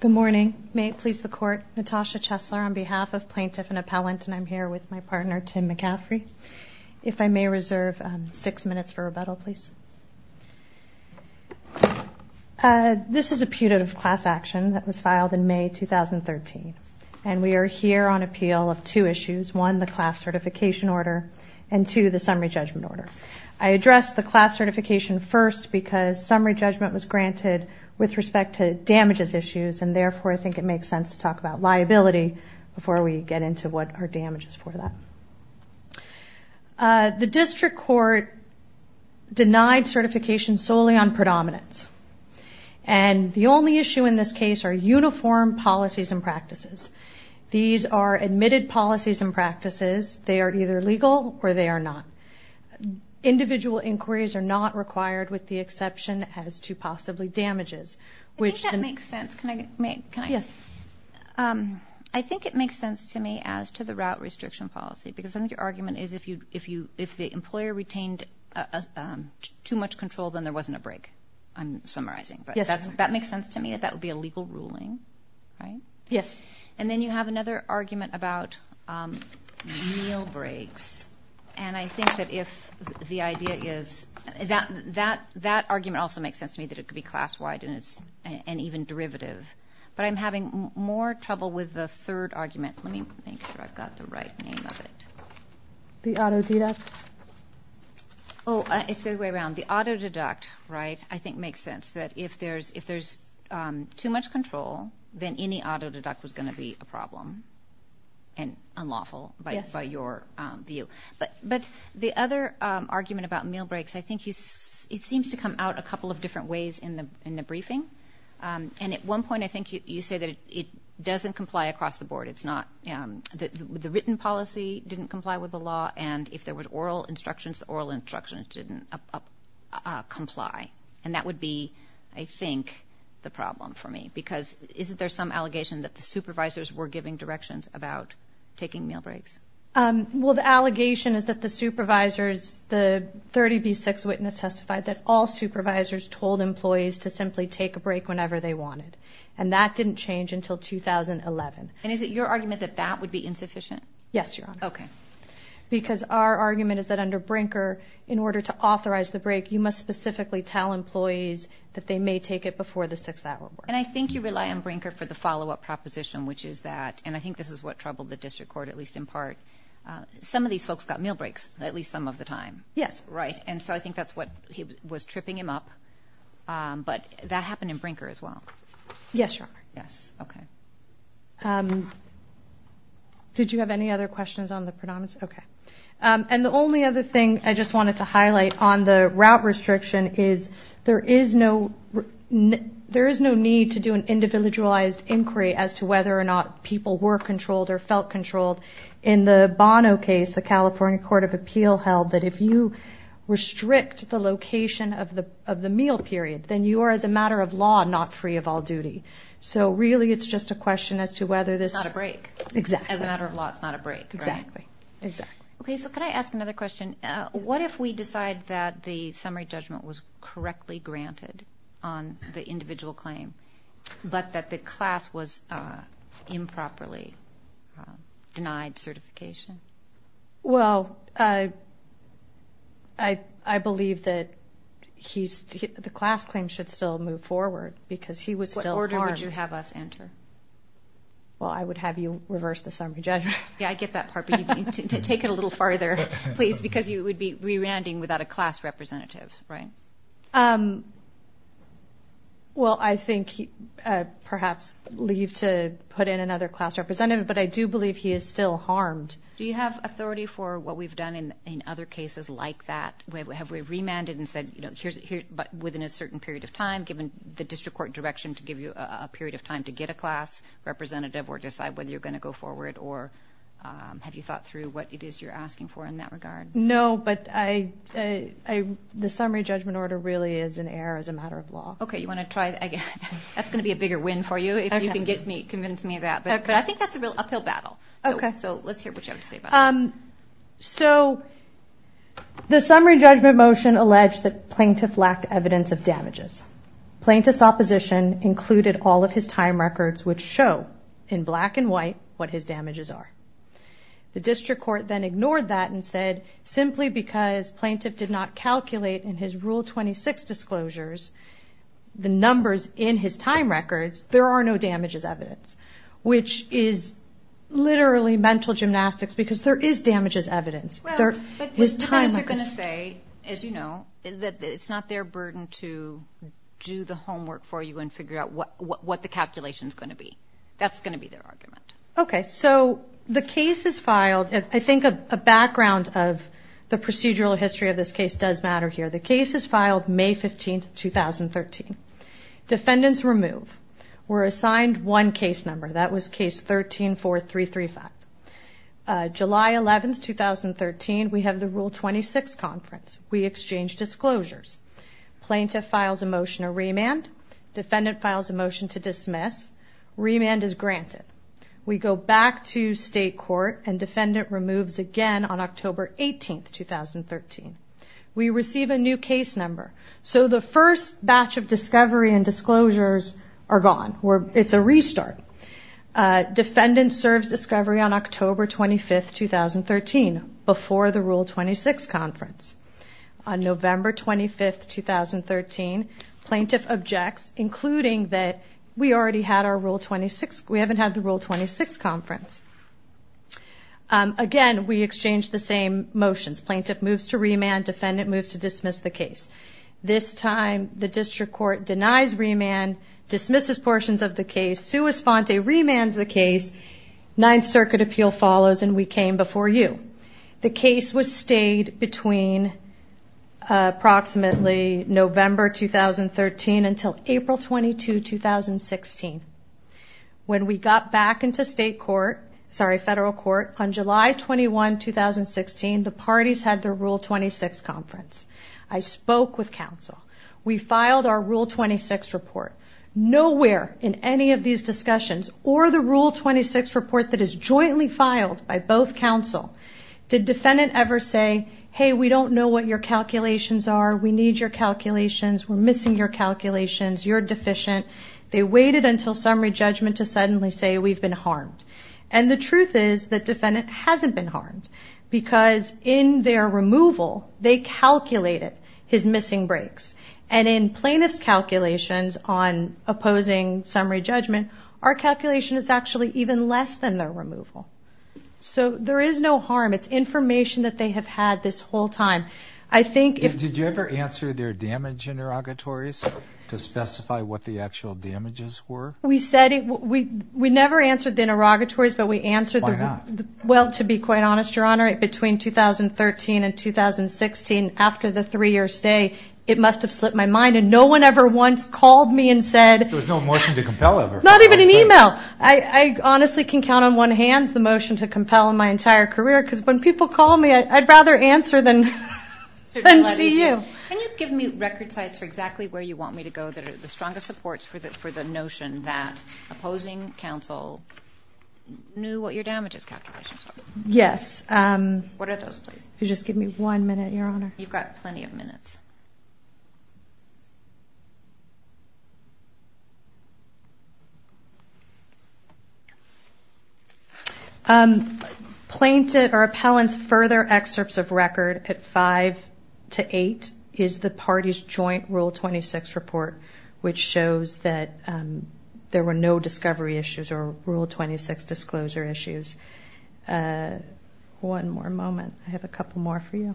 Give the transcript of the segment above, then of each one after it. Good morning. May it please the Court, Natasha Chesler on behalf of Plaintiff and Appellant, and I'm here with my partner Tim McCaffrey. If I may reserve six minutes for rebuttal, please. This is a putative class action that was filed in May 2013, and we are here on appeal of two issues. One, the class certification order, and two, the summary judgment order. I address the class certification first because summary judgment was granted with respect to damages issues, and therefore I think it makes sense to talk about liability before we get into what are damages for that. The district court denied certification solely on predominance, and the only issue in this case are uniform policies and practices. These are admitted policies and practices. They are either legal or they are not. Individual inquiries are not required with the exception as to possibly damages. I think that makes sense. Can I? Yes. I think it makes sense to me as to the route restriction policy, because I think your argument is if the employer retained too much control, then there wasn't a break, I'm summarizing. Yes. But that makes sense to me that that would be a legal ruling, right? Yes. And then you have another argument about meal breaks, and I think that if the idea is that argument also makes sense to me that it could be class-wide and even derivative, but I'm having more trouble with the third argument. Let me make sure I've got the right name of it. The auto deduct? Oh, it's the other way around. The auto deduct, right, I think makes sense that if there's too much control, then any auto deduct was going to be a problem and unlawful by your view. But the other argument about meal breaks, I think it seems to come out a couple of different ways in the briefing, and at one point I think you say that it doesn't comply across the board. The written policy didn't comply with the law, and if there were oral instructions, the oral instructions didn't comply, and that would be, I think, the problem for me because isn't there some allegation that the supervisors were giving directions about taking meal breaks? Well, the allegation is that the supervisors, the 30B6 witness testified that all supervisors told employees to simply take a break whenever they wanted, and that didn't change until 2011. And is it your argument that that would be insufficient? Yes, Your Honor. Okay. Because our argument is that under Brinker, in order to authorize the break, you must specifically tell employees that they may take it before the 6th hour of work. And I think you rely on Brinker for the follow-up proposition, which is that, and I think this is what troubled the district court at least in part, some of these folks got meal breaks at least some of the time. Yes. Right, and so I think that's what was tripping him up, but that happened in Brinker as well. Yes, Your Honor. Yes, okay. Did you have any other questions on the predominance? Okay. And the only other thing I just wanted to highlight on the route restriction is there is no need to do an individualized inquiry as to whether or not people were controlled or felt controlled. In the Bono case, the California Court of Appeal held that if you restrict the location of the meal period, then you are, as a matter of law, not free of all duty. So really it's just a question as to whether this. Not a break. Exactly. As a matter of law, it's not a break, right? Exactly. Okay, so can I ask another question? What if we decide that the summary judgment was correctly granted on the individual claim, but that the class was improperly denied certification? Well, I believe that the class claim should still move forward because he was still. What order would you have us enter? Well, I would have you reverse the summary judgment. Yeah, I get that part, but you need to take it a little farther, please, because you would be remanding without a class representative, right? Well, I think perhaps leave to put in another class representative, but I do believe he is still harmed. Do you have authority for what we've done in other cases like that? Have we remanded and said, you know, here's within a certain period of time, given the district court direction to give you a period of time to get a class representative or decide whether you're going to go forward, or have you thought through what it is you're asking for in that regard? No, but the summary judgment order really is an error as a matter of law. Okay, that's going to be a bigger win for you if you can convince me of that, but I think that's a real uphill battle. So let's hear what you have to say about that. So the summary judgment motion alleged that plaintiff lacked evidence of damages. Plaintiff's opposition included all of his time records, which show in black and white what his damages are. The district court then ignored that and said, simply because plaintiff did not calculate in his Rule 26 disclosures the numbers in his time records, there are no damages evidence, which is literally mental gymnastics because there is damages evidence. Well, but plaintiff is going to say, as you know, that it's not their burden to do the homework for you and figure out what the calculation is going to be. That's going to be their argument. Okay, so the case is filed. I think a background of the procedural history of this case does matter here. The case is filed May 15, 2013. Defendants remove. We're assigned one case number. That was case 13-4-3-3-5. July 11, 2013, we have the Rule 26 conference. We exchange disclosures. Plaintiff files a motion to remand. Defendant files a motion to dismiss. Remand is granted. We go back to state court, and defendant removes again on October 18, 2013. We receive a new case number. So the first batch of discovery and disclosures are gone. It's a restart. Defendant serves discovery on October 25, 2013, before the Rule 26 conference. On November 25, 2013, plaintiff objects, including that we haven't had the Rule 26 conference. Again, we exchange the same motions. Plaintiff moves to remand. Defendant moves to dismiss the case. This time, the district court denies remand, dismisses portions of the case, sua sponte, remands the case. Ninth Circuit appeal follows, and we came before you. The case was stayed between approximately November 2013 until April 22, 2016. When we got back into state court, sorry, federal court, on July 21, 2016, the parties had their Rule 26 conference. I spoke with counsel. We filed our Rule 26 report. Nowhere in any of these discussions, or the Rule 26 report that is jointly filed by both counsel, did defendant ever say, hey, we don't know what your calculations are. We need your calculations. We're missing your calculations. You're deficient. They waited until summary judgment to suddenly say we've been harmed. And the truth is that defendant hasn't been harmed because in their removal, they calculated his missing breaks. And in plaintiff's calculations on opposing summary judgment, our calculation is actually even less than their removal. So there is no harm. It's information that they have had this whole time. Did you ever answer their damage interrogatories to specify what the actual damages were? We said it. We never answered the interrogatories, but we answered them. Why not? Well, to be quite honest, Your Honor, between 2013 and 2016, after the three-year stay, it must have slipped my mind. And no one ever once called me and said. There was no motion to compel ever. Not even an e-mail. I honestly can count on one hand the motion to compel in my entire career because when people call me, I'd rather answer than see you. Can you give me record sites for exactly where you want me to go that are the strongest supports for the notion that opposing counsel knew what your damages calculations were? Yes. What are those, please? Just give me one minute, Your Honor. You've got plenty of minutes. Plaintiff or appellant's further excerpts of record at 5 to 8 is the party's joint Rule 26 report, which shows that there were no discovery issues or Rule 26 disclosure issues. One more moment. I have a couple more for you.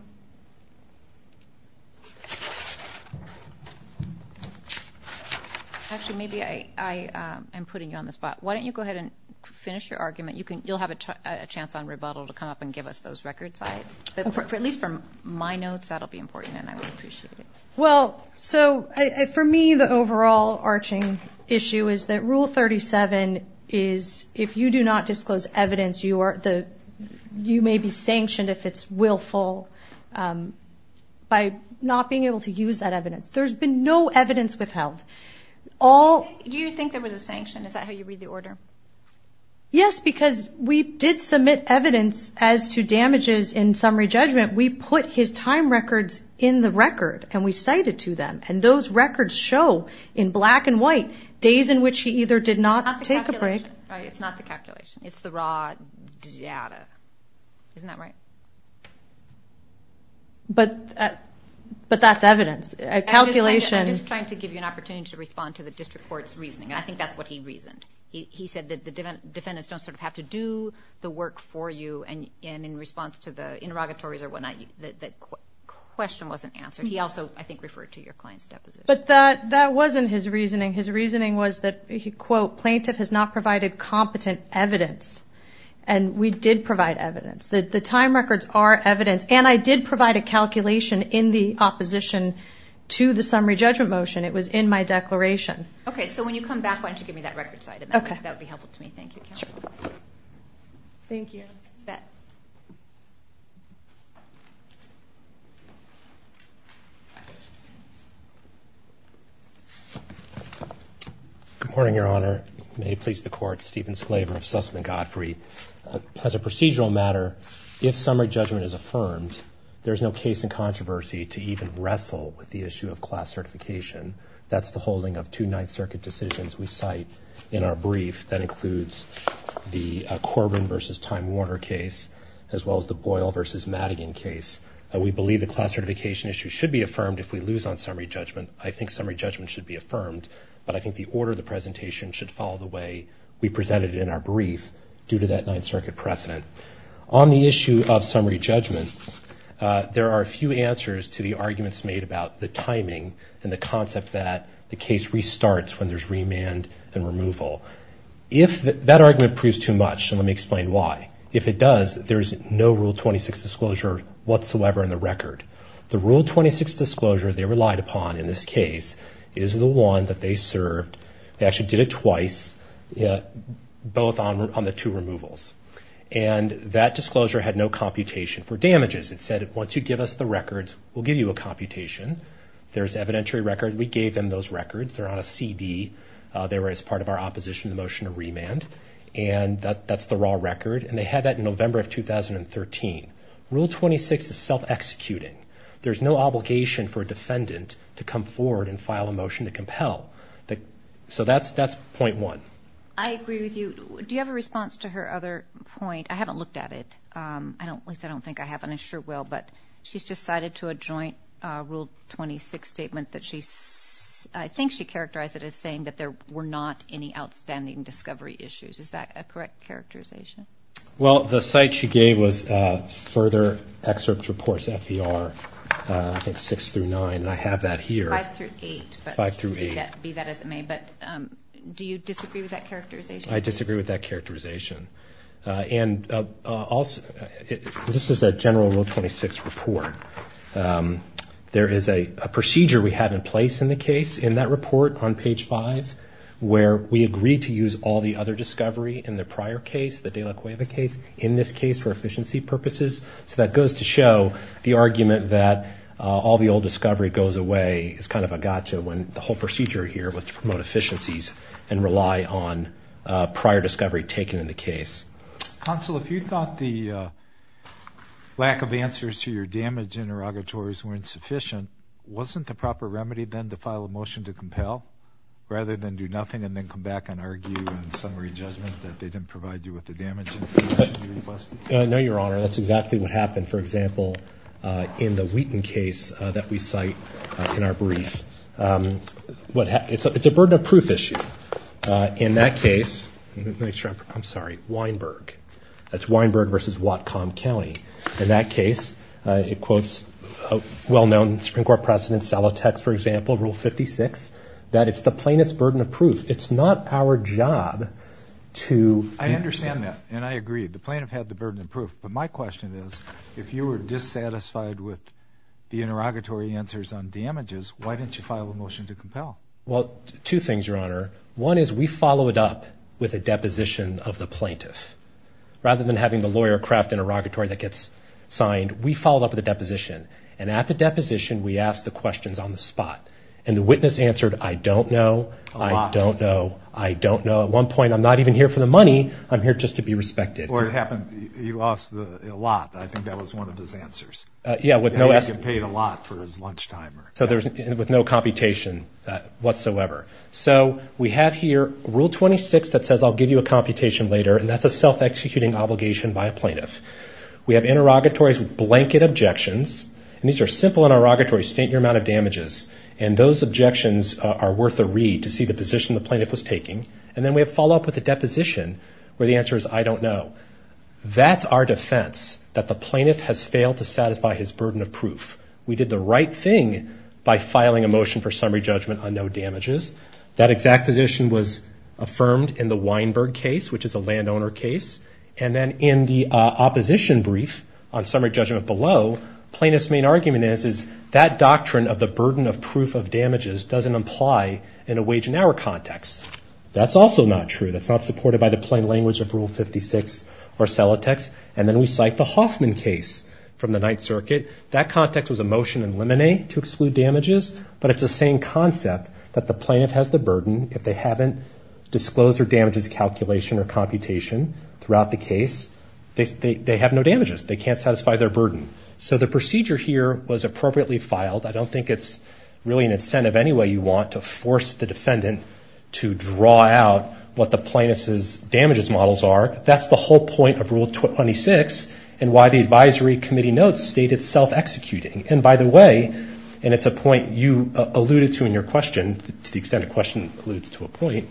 Actually, maybe I am putting you on the spot. Why don't you go ahead and finish your argument. You'll have a chance on rebuttal to come up and give us those record sites. At least from my notes, that will be important and I would appreciate it. Well, so for me, the overall arching issue is that Rule 37 is if you do not disclose evidence, you may be sanctioned if it's willful by not being able to use that evidence. There's been no evidence withheld. Do you think there was a sanction? Is that how you read the order? Yes, because we did submit evidence as to damages in summary judgment. We put his time records in the record and we cited to them, and those records show in black and white days in which he either did not take a break. It's not the calculation. It's the raw data. Isn't that right? But that's evidence. I'm just trying to give you an opportunity to respond to the district court's reasoning, and I think that's what he reasoned. He said that the defendants don't sort of have to do the work for you, and in response to the interrogatories or whatnot, the question wasn't answered. He also, I think, referred to your client's deposition. But that wasn't his reasoning. His reasoning was that, quote, plaintiff has not provided competent evidence, and we did provide evidence. The time records are evidence, and I did provide a calculation in the opposition to the summary judgment motion. It was in my declaration. Okay. So when you come back, why don't you give me that records item? Okay. That would be helpful to me. Thank you, counsel. Thank you. Bett. Good morning, Your Honor. May it please the court, Stephen Sclaver of Sussman Godfrey. As a procedural matter, if summary judgment is affirmed, there's no case in controversy to even wrestle with the issue of class certification. That's the holding of two Ninth Circuit decisions we cite in our brief. That includes the Corbin versus Time Warner case, as well as the Boyle versus Madigan case. We believe the class certification issue should be affirmed if we lose on summary judgment. I think summary judgment should be affirmed, but I think the order of the presentation should follow the way we presented it in our brief due to that Ninth Circuit precedent. On the issue of summary judgment, there are a few answers to the arguments made about the timing and the concept that the case restarts when there's remand and removal. If that argument proves too much, and let me explain why. If it does, there's no Rule 26 disclosure whatsoever in the record. The Rule 26 disclosure they relied upon in this case is the one that they served. They actually did it twice, both on the two removals. And that disclosure had no computation for damages. It said, once you give us the records, we'll give you a computation. There's evidentiary records. We gave them those records. They're on a CD. They were as part of our opposition to the motion to remand. And that's the raw record. And they had that in November of 2013. Rule 26 is self-executing. There's no obligation for a defendant to come forward and file a motion to compel. So that's point one. I agree with you. Do you have a response to her other point? I haven't looked at it. At least I don't think I have, and I sure will. But she's just cited to a joint Rule 26 statement that she's ‑‑ I think she characterized it as saying that there were not any outstanding discovery issues. Is that a correct characterization? Well, the cite she gave was further excerpt reports, FER, I think six through nine. I have that here. Five through eight. Five through eight. But do you disagree with that characterization? I disagree with that characterization. And also, this is a general Rule 26 report. There is a procedure we have in place in the case in that report on page five where we agreed to use all the other discovery in the prior case, the de la Cueva case, in this case for efficiency purposes. So that goes to show the argument that all the old discovery goes away is kind of a gotcha when the whole procedure here was to promote Counsel, if you thought the lack of answers to your damage interrogatories weren't sufficient, wasn't the proper remedy then to file a motion to compel rather than do nothing and then come back and argue in summary judgment that they didn't provide you with the damage information you requested? No, Your Honor. That's exactly what happened. For example, in the Wheaton case that we cite in our brief. It's a burden of proof issue. In that case, I'm sorry, Weinberg. That's Weinberg versus Whatcom County. In that case, it quotes a well-known Supreme Court precedent, Salatex, for example, Rule 56, that it's the plaintiff's burden of proof. It's not our job to. I understand that. And I agree. The plaintiff had the burden of proof. But my question is, if you were dissatisfied with the interrogatory answers on damages, why didn't you file a motion to compel? Well, two things, Your Honor. One is we followed it up with a deposition of the plaintiff. Rather than having the lawyer craft an interrogatory that gets signed, we followed up with a deposition. And at the deposition, we asked the questions on the spot. And the witness answered, I don't know. I don't know. I don't know. At one point, I'm not even here for the money. I'm here just to be respected. Or it happened, you asked a lot. I think that was one of his answers. Yeah, with no. He paid a lot for his lunchtime. So with no computation whatsoever. So we have here Rule 26 that says, I'll give you a computation later. And that's a self-executing obligation by a plaintiff. We have interrogatories with blanket objections. And these are simple interrogatories. State your amount of damages. And those objections are worth a read to see the position the plaintiff was taking. And then we have follow-up with a deposition where the answer is, I don't know. We did the right thing by filing a motion for summary judgment on no damages. That exact position was affirmed in the Weinberg case, which is a landowner case. And then in the opposition brief on summary judgment below, plaintiff's main argument is that doctrine of the burden of proof of damages doesn't apply in a wage and hour context. That's also not true. That's not supported by the plain language of Rule 56 or Celotex. And then we cite the Hoffman case from the Ninth Circuit. That context was a motion in limine to exclude damages, but it's the same concept that the plaintiff has the burden. If they haven't disclosed their damages calculation or computation throughout the case, they have no damages. They can't satisfy their burden. So the procedure here was appropriately filed. I don't think it's really an incentive any way you want to force the defendant to draw out what the plaintiff's damages models are. That's the whole point of Rule 26 and why the advisory committee notes state it's self-executing. And by the way, and it's a point you alluded to in your question, to the extent a question alludes to a point,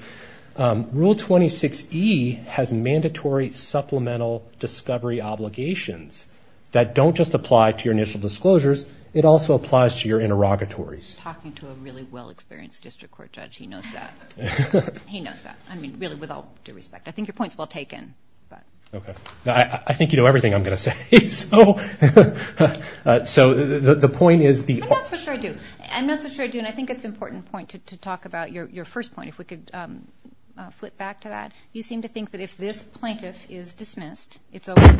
Rule 26E has mandatory supplemental discovery obligations that don't just apply to your initial disclosures. It also applies to your interrogatories. Talking to a really well-experienced district court judge, he knows that. He knows that, I mean, really, with all due respect. I think your point's well taken. Okay. I think you know everything I'm going to say. So the point is the— I'm not so sure I do. I'm not so sure I do, and I think it's an important point to talk about your first point, if we could flip back to that. You seem to think that if this plaintiff is dismissed, it's over.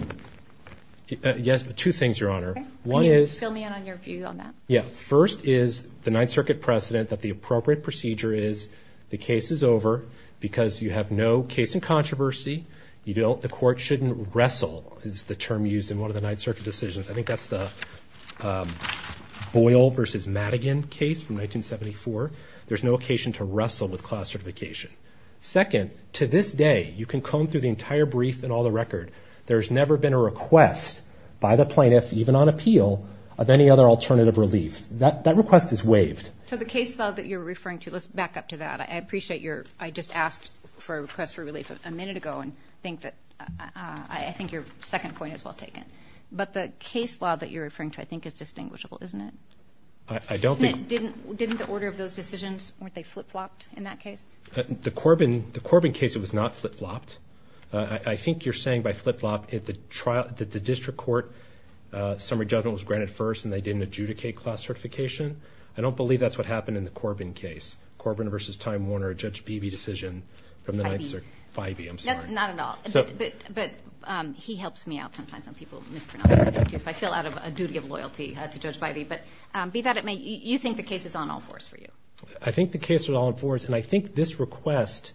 Yes, two things, Your Honor. One is— Can you fill me in on your view on that? Yeah. First is the Ninth Circuit precedent that the appropriate procedure is the case is over because you have no case in controversy. The court shouldn't wrestle is the term used in one of the Ninth Circuit decisions. I think that's the Boyle v. Madigan case from 1974. There's no occasion to wrestle with class certification. Second, to this day, you can comb through the entire brief and all the record. There's never been a request by the plaintiff, even on appeal, of any other alternative relief. That request is waived. So the case law that you're referring to, let's back up to that. I appreciate your—I just asked for a request for relief a minute ago, and I think your second point is well taken. But the case law that you're referring to, I think, is distinguishable, isn't it? I don't think— Didn't the order of those decisions, weren't they flip-flopped in that case? The Corbin case, it was not flip-flopped. I think you're saying by flip-flop that the district court summary judgment was granted first and they didn't adjudicate class certification. I don't believe that's what happened in the Corbin case. Corbin v. Time Warner, Judge Bivey decision from the 9th Circuit. Bivey. Bivey, I'm sorry. Not at all. But he helps me out sometimes on people mispronouncing my name, too, so I feel out of a duty of loyalty to Judge Bivey. But be that it may, you think the case is on all fours for you? I think the case is on all fours, and I think this request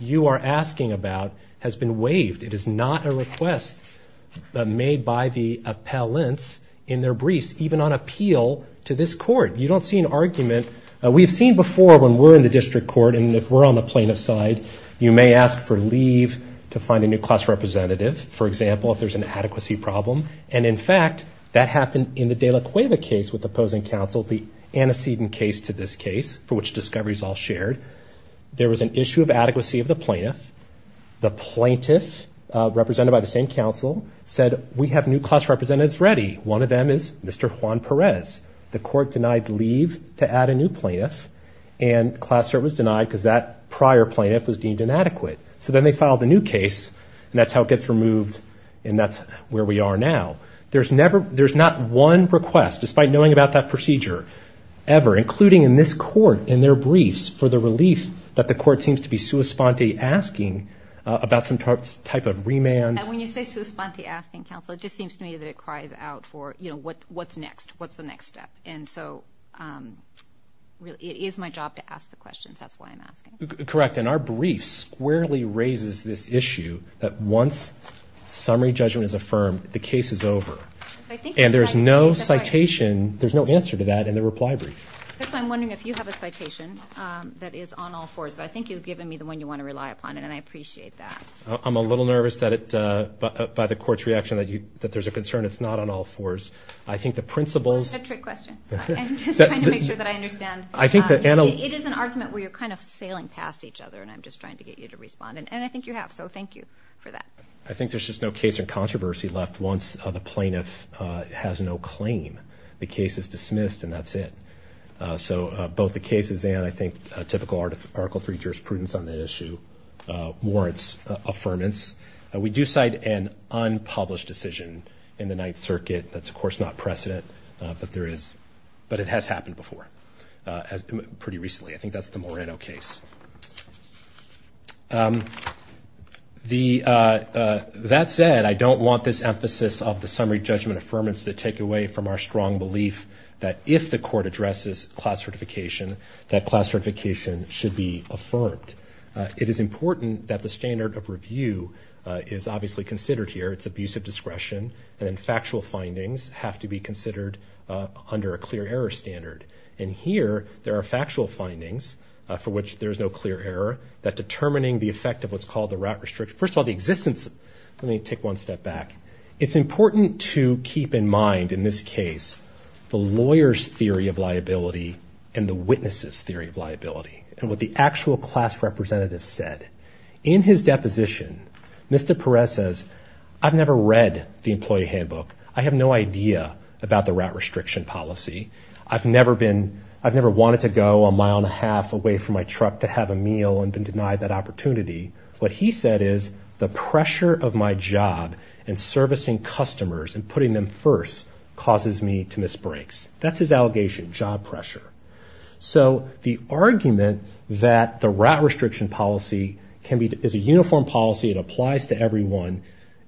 you are asking about has been waived. It is not a request made by the appellants in their briefs, even on appeal to this court. You don't see an argument. We've seen before when we're in the district court and if we're on the plaintiff's side, you may ask for leave to find a new class representative, for example, if there's an adequacy problem. And, in fact, that happened in the de la Cueva case with opposing counsel, the antecedent case to this case for which discovery is all shared. There was an issue of adequacy of the plaintiff. The plaintiff, represented by the same counsel, said we have new class representatives ready. One of them is Mr. Juan Perez. The court denied leave to add a new plaintiff, and class cert was denied because that prior plaintiff was deemed inadequate. So then they filed a new case, and that's how it gets removed, and that's where we are now. There's not one request, despite knowing about that procedure, ever, including in this court in their briefs, for the relief that the court seems to be sua sponte asking about some type of remand. And when you say sua sponte asking, counsel, it just seems to me that it cries out for, you know, what's next? What's the next step? And so it is my job to ask the questions. That's why I'm asking. Correct. And our brief squarely raises this issue that once summary judgment is affirmed, the case is over. And there's no citation, there's no answer to that in the reply brief. That's why I'm wondering if you have a citation that is on all fours, but I think you've given me the one you want to rely upon, and I appreciate that. I'm a little nervous by the court's reaction that there's a concern it's not on all fours. I think the principles. That's a trick question. I'm just trying to make sure that I understand. It is an argument where you're kind of sailing past each other, and I'm just trying to get you to respond. And I think you have, so thank you for that. I think there's just no case or controversy left once the plaintiff has no claim. The case is dismissed, and that's it. So both the cases and I think typical Article III jurisprudence on that issue warrants affirmance. We do cite an unpublished decision in the Ninth Circuit. That's, of course, not precedent, but it has happened before pretty recently. I think that's the Moreno case. That said, I don't want this emphasis of the summary judgment affirmance to take away from our strong belief that if the court addresses class certification, that class certification should be affirmed. It is important that the standard of review is obviously considered here. It's abuse of discretion. And factual findings have to be considered under a clear error standard. And here there are factual findings for which there is no clear error, that determining the effect of what's called the route restriction. First of all, the existence of it. Let me take one step back. It's important to keep in mind in this case the lawyer's theory of liability and the witness's theory of liability and what the actual class representative said. In his deposition, Mr. Perez says, I've never read the employee handbook. I have no idea about the route restriction policy. I've never wanted to go a mile and a half away from my truck to have a meal and been denied that opportunity. What he said is, the pressure of my job and servicing customers and putting them first causes me to miss breaks. That's his allegation, job pressure. So the argument that the route restriction policy is a uniform policy, it applies to everyone,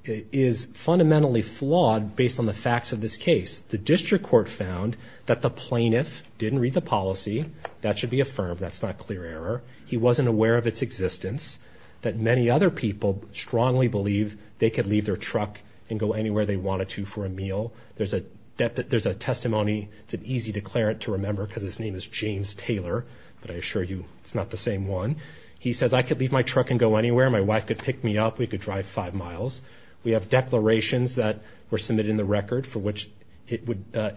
is fundamentally flawed based on the facts of this case. The district court found that the plaintiff didn't read the policy. That should be affirmed. That's not clear error. He wasn't aware of its existence. That many other people strongly believe they could leave their truck and go anywhere they wanted to for a meal. There's a testimony. It's an easy declarant to remember because his name is James Taylor, but I assure you it's not the same one. He says, I could leave my truck and go anywhere. My wife could pick me up. We could drive five miles. We have declarations that were submitted in the record for which it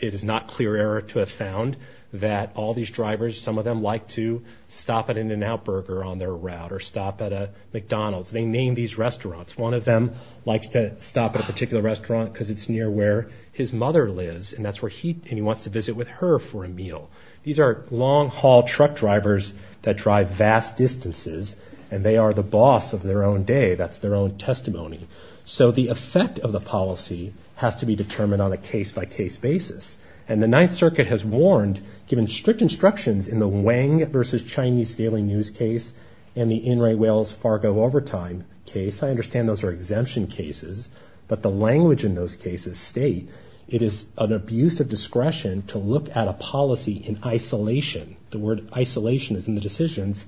is not clear error to have found that all these drivers, some of them like to stop at an Outburger on their route or stop at a McDonald's. They name these restaurants. One of them likes to stop at a particular restaurant because it's near where his mother lives, and that's where he wants to visit with her for a meal. These are long-haul truck drivers that drive vast distances, and they are the boss of their own day. That's their own testimony. So the effect of the policy has to be determined on a case-by-case basis, and the Ninth Circuit has warned, given strict instructions in the Wang versus Chinese Daily News case and the Inright Whales Fargo Overtime case, I understand those are exemption cases, but the language in those cases state it is an abuse of discretion to look at a policy in isolation, the word isolation is in the decisions,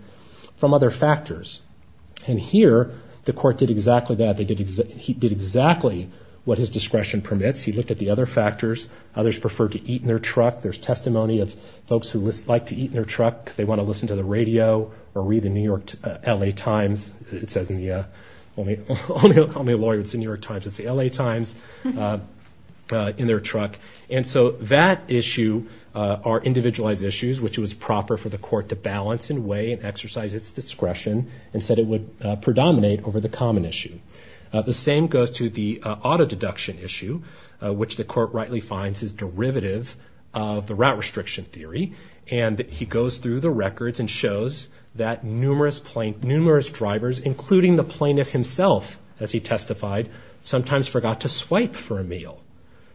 from other factors. And here the court did exactly that. He did exactly what his discretion permits. He looked at the other factors. Others prefer to eat in their truck. There's testimony of folks who like to eat in their truck because they want to listen to the radio or read the New York L.A. Times. It says in the only lawyer who would see New York Times, it's the L.A. Times, in their truck. And so that issue are individualized issues, which it was proper for the court to balance and weigh and exercise its discretion and said it would predominate over the common issue. The same goes to the auto deduction issue, which the court rightly finds is derivative of the route restriction theory, and he goes through the records and shows that numerous drivers, including the plaintiff himself, as he testified, sometimes forgot to swipe for a meal.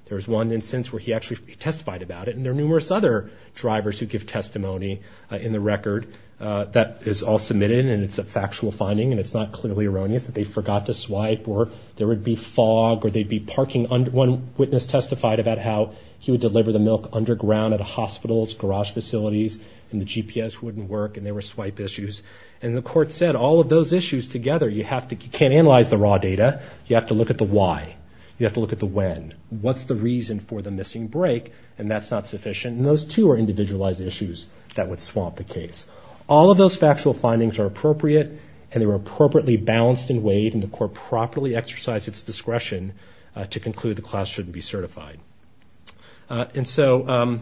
There's one instance where he actually testified about it, and there are numerous other drivers who give testimony in the record that is all submitted, and it's a factual finding, and it's not clearly erroneous that they forgot to swipe, or there would be fog, or they'd be parking. One witness testified about how he would deliver the milk underground at a hospital's garage facilities, and the GPS wouldn't work, and there were swipe issues. And the court said all of those issues together, you can't analyze the raw data. You have to look at the why. You have to look at the when. What's the reason for the missing brake? And that's not sufficient. And those, too, are individualized issues that would swamp the case. All of those factual findings are appropriate, and they were appropriately balanced and weighed, and the court properly exercised its discretion to conclude the class shouldn't be certified. And so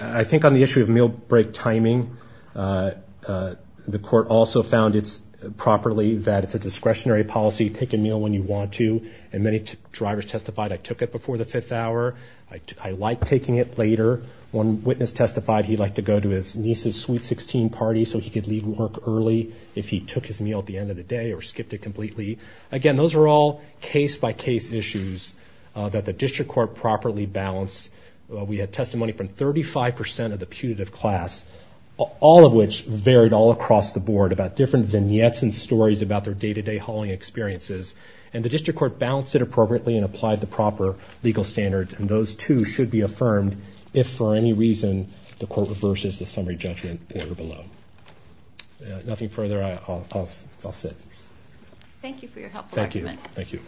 I think on the issue of meal break timing, the court also found properly that it's a discretionary policy. Take a meal when you want to, and many drivers testified, I took it before the fifth hour. I like taking it later. One witness testified he'd like to go to his niece's Sweet 16 party so he could leave work early if he took his meal at the end of the day or skipped it completely. Again, those are all case-by-case issues that the district court properly balanced. We had testimony from 35 percent of the putative class, all of which varied all across the board about different vignettes and stories about their day-to-day hauling experiences. And the district court balanced it appropriately and applied the proper legal standards, and those, too, should be affirmed if for any reason the court reverses the summary judgment there below. Nothing further, I'll sit. Thank you for your helpful argument. Thank you.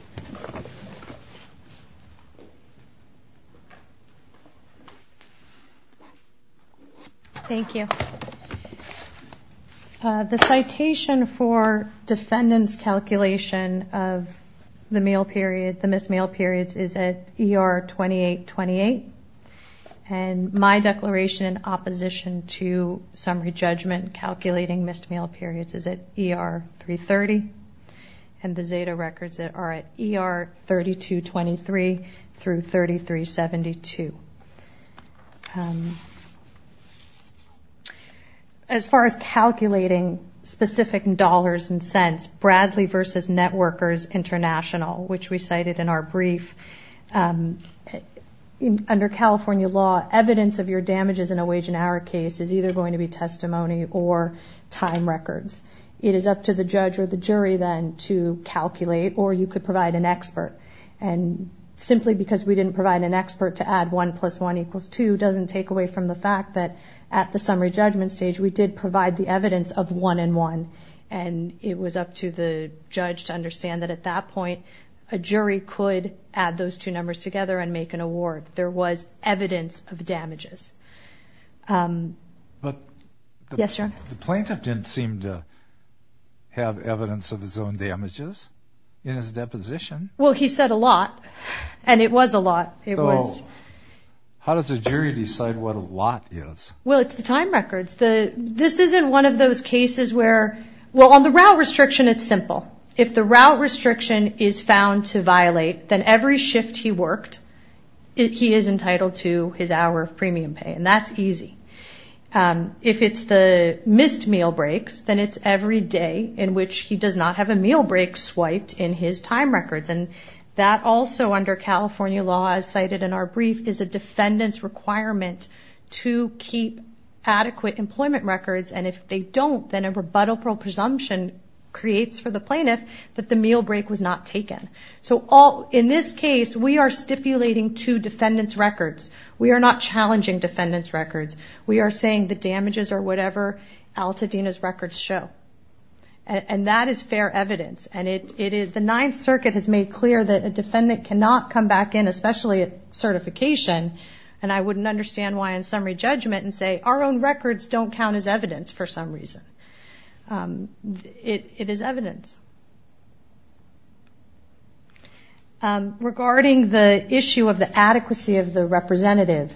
Thank you. The citation for defendant's calculation of the meal period, the missed meal periods, is at ER 2828, and my declaration in opposition to summary judgment calculating missed meal periods is at ER 330, and the Zeta records are at ER 3223 through 3372. As far as calculating specific dollars and cents, Bradley v. Networkers International, which we cited in our brief, under California law, evidence of your damages in a wage and hour case is either going to be testimony or time records. It is up to the judge or the jury, then, to calculate, or you could provide an expert. And simply because we didn't provide an expert to add 1 plus 1 equals 2 doesn't take away from the fact that at the summary judgment stage we did provide the evidence of 1 and 1, and it was up to the judge to understand that at that point a jury could add those two numbers together and make an award. There was evidence of damages. Yes, sir. The plaintiff didn't seem to have evidence of his own damages in his deposition. Well, he said a lot, and it was a lot. So how does a jury decide what a lot is? Well, it's the time records. This isn't one of those cases where, well, on the route restriction it's simple. If the route restriction is found to violate, then every shift he worked he is entitled to his hour of premium pay, and that's easy. If it's the missed meal breaks, then it's every day in which he does not have a meal break swiped in his time records. And that also, under California law, as cited in our brief, is a defendant's requirement to keep adequate employment records, and if they don't then a rebuttal presumption creates for the plaintiff that the meal break was not taken. So in this case we are stipulating two defendant's records. We are not challenging defendant's records. We are saying the damages are whatever Altadena's records show, and that is fair evidence. And the Ninth Circuit has made clear that a defendant cannot come back in, especially at certification, and I wouldn't understand why in summary judgment and say our own records don't count as evidence for some reason. It is evidence. Regarding the issue of the adequacy of the representative,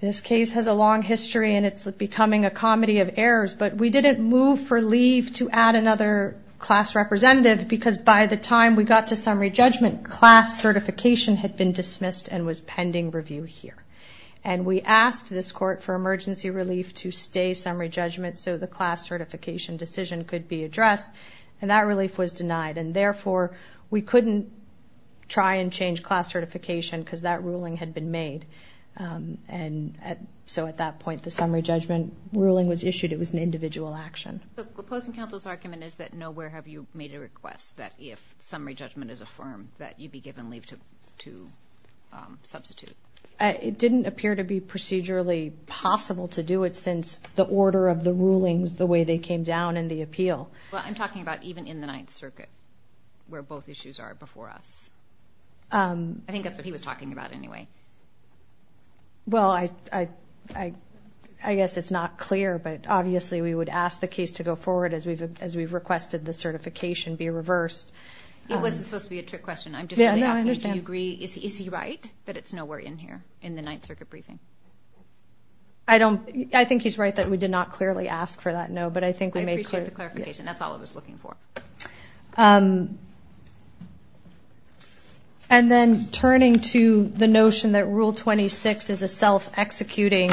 this case has a long history and it's becoming a comedy of errors, but we didn't move for leave to add another class representative because by the time we got to summary judgment, class certification had been dismissed and was pending review here. And we asked this court for emergency relief to stay summary judgment so the class certification decision could be addressed, and that relief was denied, and therefore we couldn't try and change class certification because that ruling had been made. And so at that point the summary judgment ruling was issued. It was an individual action. The opposing counsel's argument is that nowhere have you made a request that if summary judgment is affirmed that you be given leave to substitute. It didn't appear to be procedurally possible to do it since the order of the rulings, the way they came down in the appeal. Well, I'm talking about even in the Ninth Circuit where both issues are before us. I think that's what he was talking about anyway. Well, I guess it's not clear, but obviously we would ask the case to go forward as we've requested the certification be reversed. It wasn't supposed to be a trick question. I'm just really asking you to agree. Is he right that it's nowhere in here in the Ninth Circuit briefing? I think he's right that we did not clearly ask for that no, but I think we made clear. That's all I was looking for. And then turning to the notion that Rule 26 is a self-executing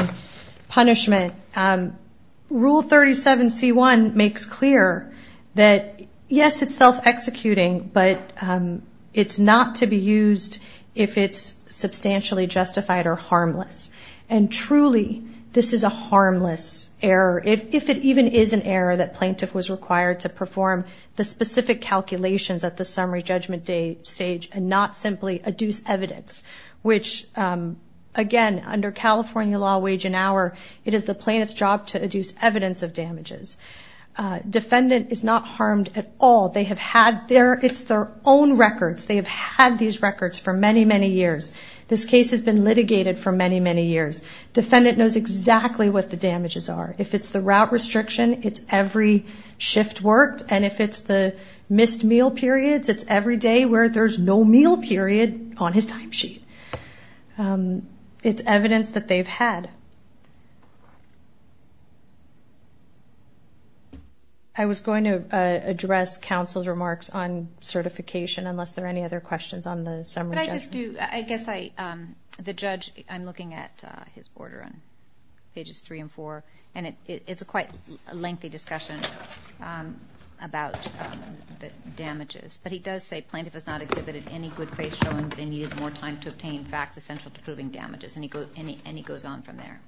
punishment, Rule 37C1 makes clear that, yes, it's self-executing, but it's not to be used if it's substantially justified or harmless. And truly, this is a harmless error, if it even is an error that plaintiff was required to perform the specific calculations at the summary judgment stage and not simply adduce evidence, which, again, under California law, wage and hour, it is the plaintiff's job to adduce evidence of damages. Defendant is not harmed at all. It's their own records. They have had these records for many, many years. This case has been litigated for many, many years. Defendant knows exactly what the damages are. If it's the route restriction, it's every shift worked, and if it's the missed meal periods, it's every day where there's no meal period on his timesheet. It's evidence that they've had. I was going to address counsel's remarks on certification, unless there are any other questions on the summary judgment. Could I just do ñ I guess I ñ the judge, I'm looking at his order on pages three and four, and it's a quite lengthy discussion about the damages, but he does say plaintiff has not exhibited any good faith showing they needed more time to obtain facts essential to proving damages, and he goes on from there.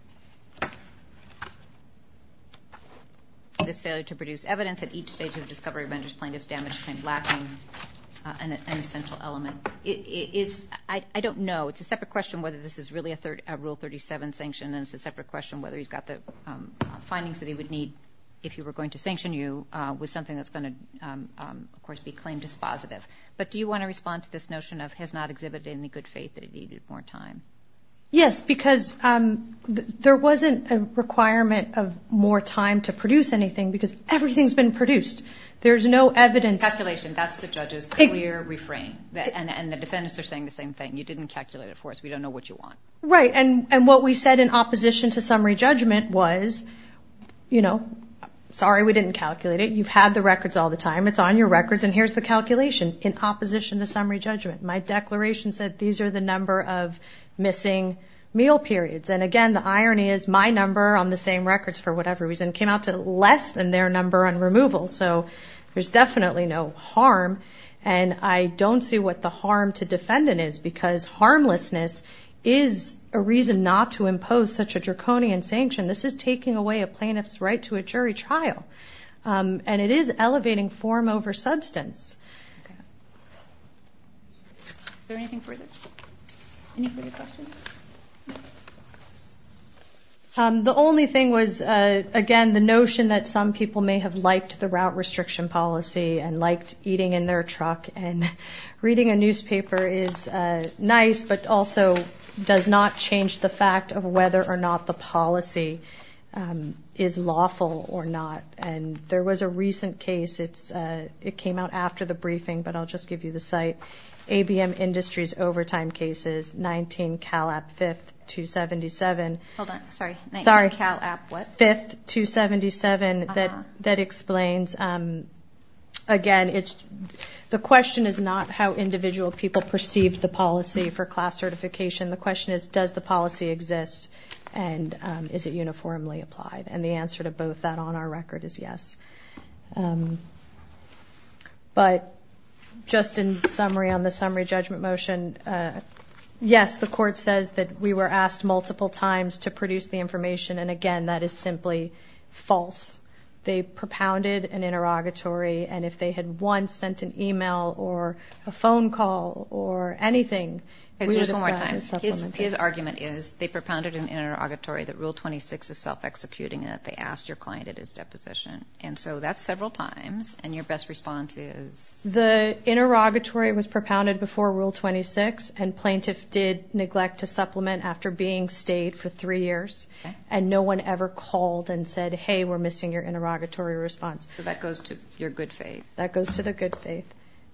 This failure to produce evidence at each stage of discovery of a vendor's plaintiff's damage and lacking an essential element is ñ I don't know. It's a separate question whether this is really a Rule 37 sanction, and it's a separate question whether he's got the findings that he would need if he were going to sanction you with something that's going to, of course, be claimed as positive. But do you want to respond to this notion of has not exhibited any good faith that he needed more time? Yes, because there wasn't a requirement of more time to produce anything because everything's been produced. There's no evidence. Calculation. That's the judge's clear refrain, and the defendants are saying the same thing. You didn't calculate it for us. We don't know what you want. Right, and what we said in opposition to summary judgment was, you know, sorry, we didn't calculate it. You've had the records all the time. It's on your records, and here's the calculation in opposition to summary judgment. My declaration said these are the number of missing meal periods, and again, the irony is my number on the same records for whatever reason came out to less than their number on removal. So there's definitely no harm, and I don't see what the harm to defendant is because harmlessness is a reason not to impose such a draconian sanction. This is taking away a plaintiff's right to a jury trial, and it is elevating form over substance. Is there anything further? Any further questions? The only thing was, again, the notion that some people may have liked the route restriction policy and liked eating in their truck, and reading a newspaper is nice but also does not change the fact of whether or not the policy is lawful or not. And there was a recent case. It came out after the briefing, but I'll just give you the site. ABM Industries Overtime Cases, 19 CALAP 5th, 277. Hold on. Sorry. 19 CALAP what? 5th, 277. Uh-huh. That explains. Again, the question is not how individual people perceived the policy for class certification. The question is, does the policy exist, and is it uniformly applied? And the answer to both that on our record is yes. But just in summary on the summary judgment motion, yes, the court says that we were asked multiple times to produce the information, and, again, that is simply false. They propounded an interrogatory, and if they had once sent an e-mail or a phone call or anything, we would have provided supplementation. Just one more time. His argument is they propounded an interrogatory that Rule 26 is self-executing and that they asked your client at his deposition. And so that's several times, and your best response is? The interrogatory was propounded before Rule 26, and plaintiff did neglect to supplement after being stayed for three years. Okay. And no one ever called and said, hey, we're missing your interrogatory response. So that goes to your good faith. That goes to the good faith.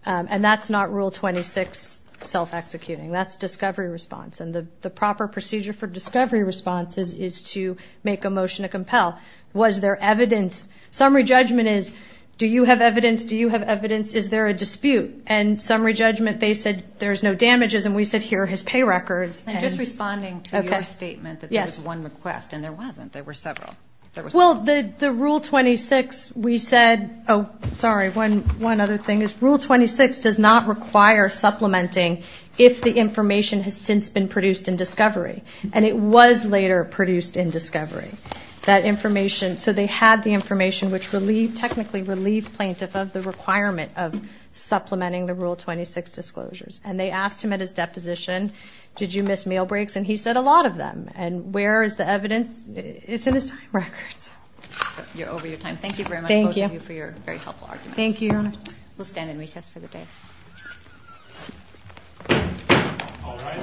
And that's not Rule 26 self-executing. That's discovery response. And the proper procedure for discovery response is to make a motion to compel. Was there evidence? Summary judgment is do you have evidence? Do you have evidence? Is there a dispute? And summary judgment, they said there's no damages, and we said here are his pay records. And just responding to your statement that there was one request, and there wasn't. There were several. Well, the Rule 26, we said oh, sorry, one other thing is Rule 26 does not require supplementing if the information has since been produced in discovery. And it was later produced in discovery. That information, so they had the information which technically relieved plaintiff of the requirement of supplementing the Rule 26 disclosures. And they asked him at his deposition, did you miss meal breaks? And he said a lot of them. And where is the evidence? It's in his time records. You're over your time. Thank you very much for your very helpful arguments. Thank you. We'll stand in recess for the day. All rise.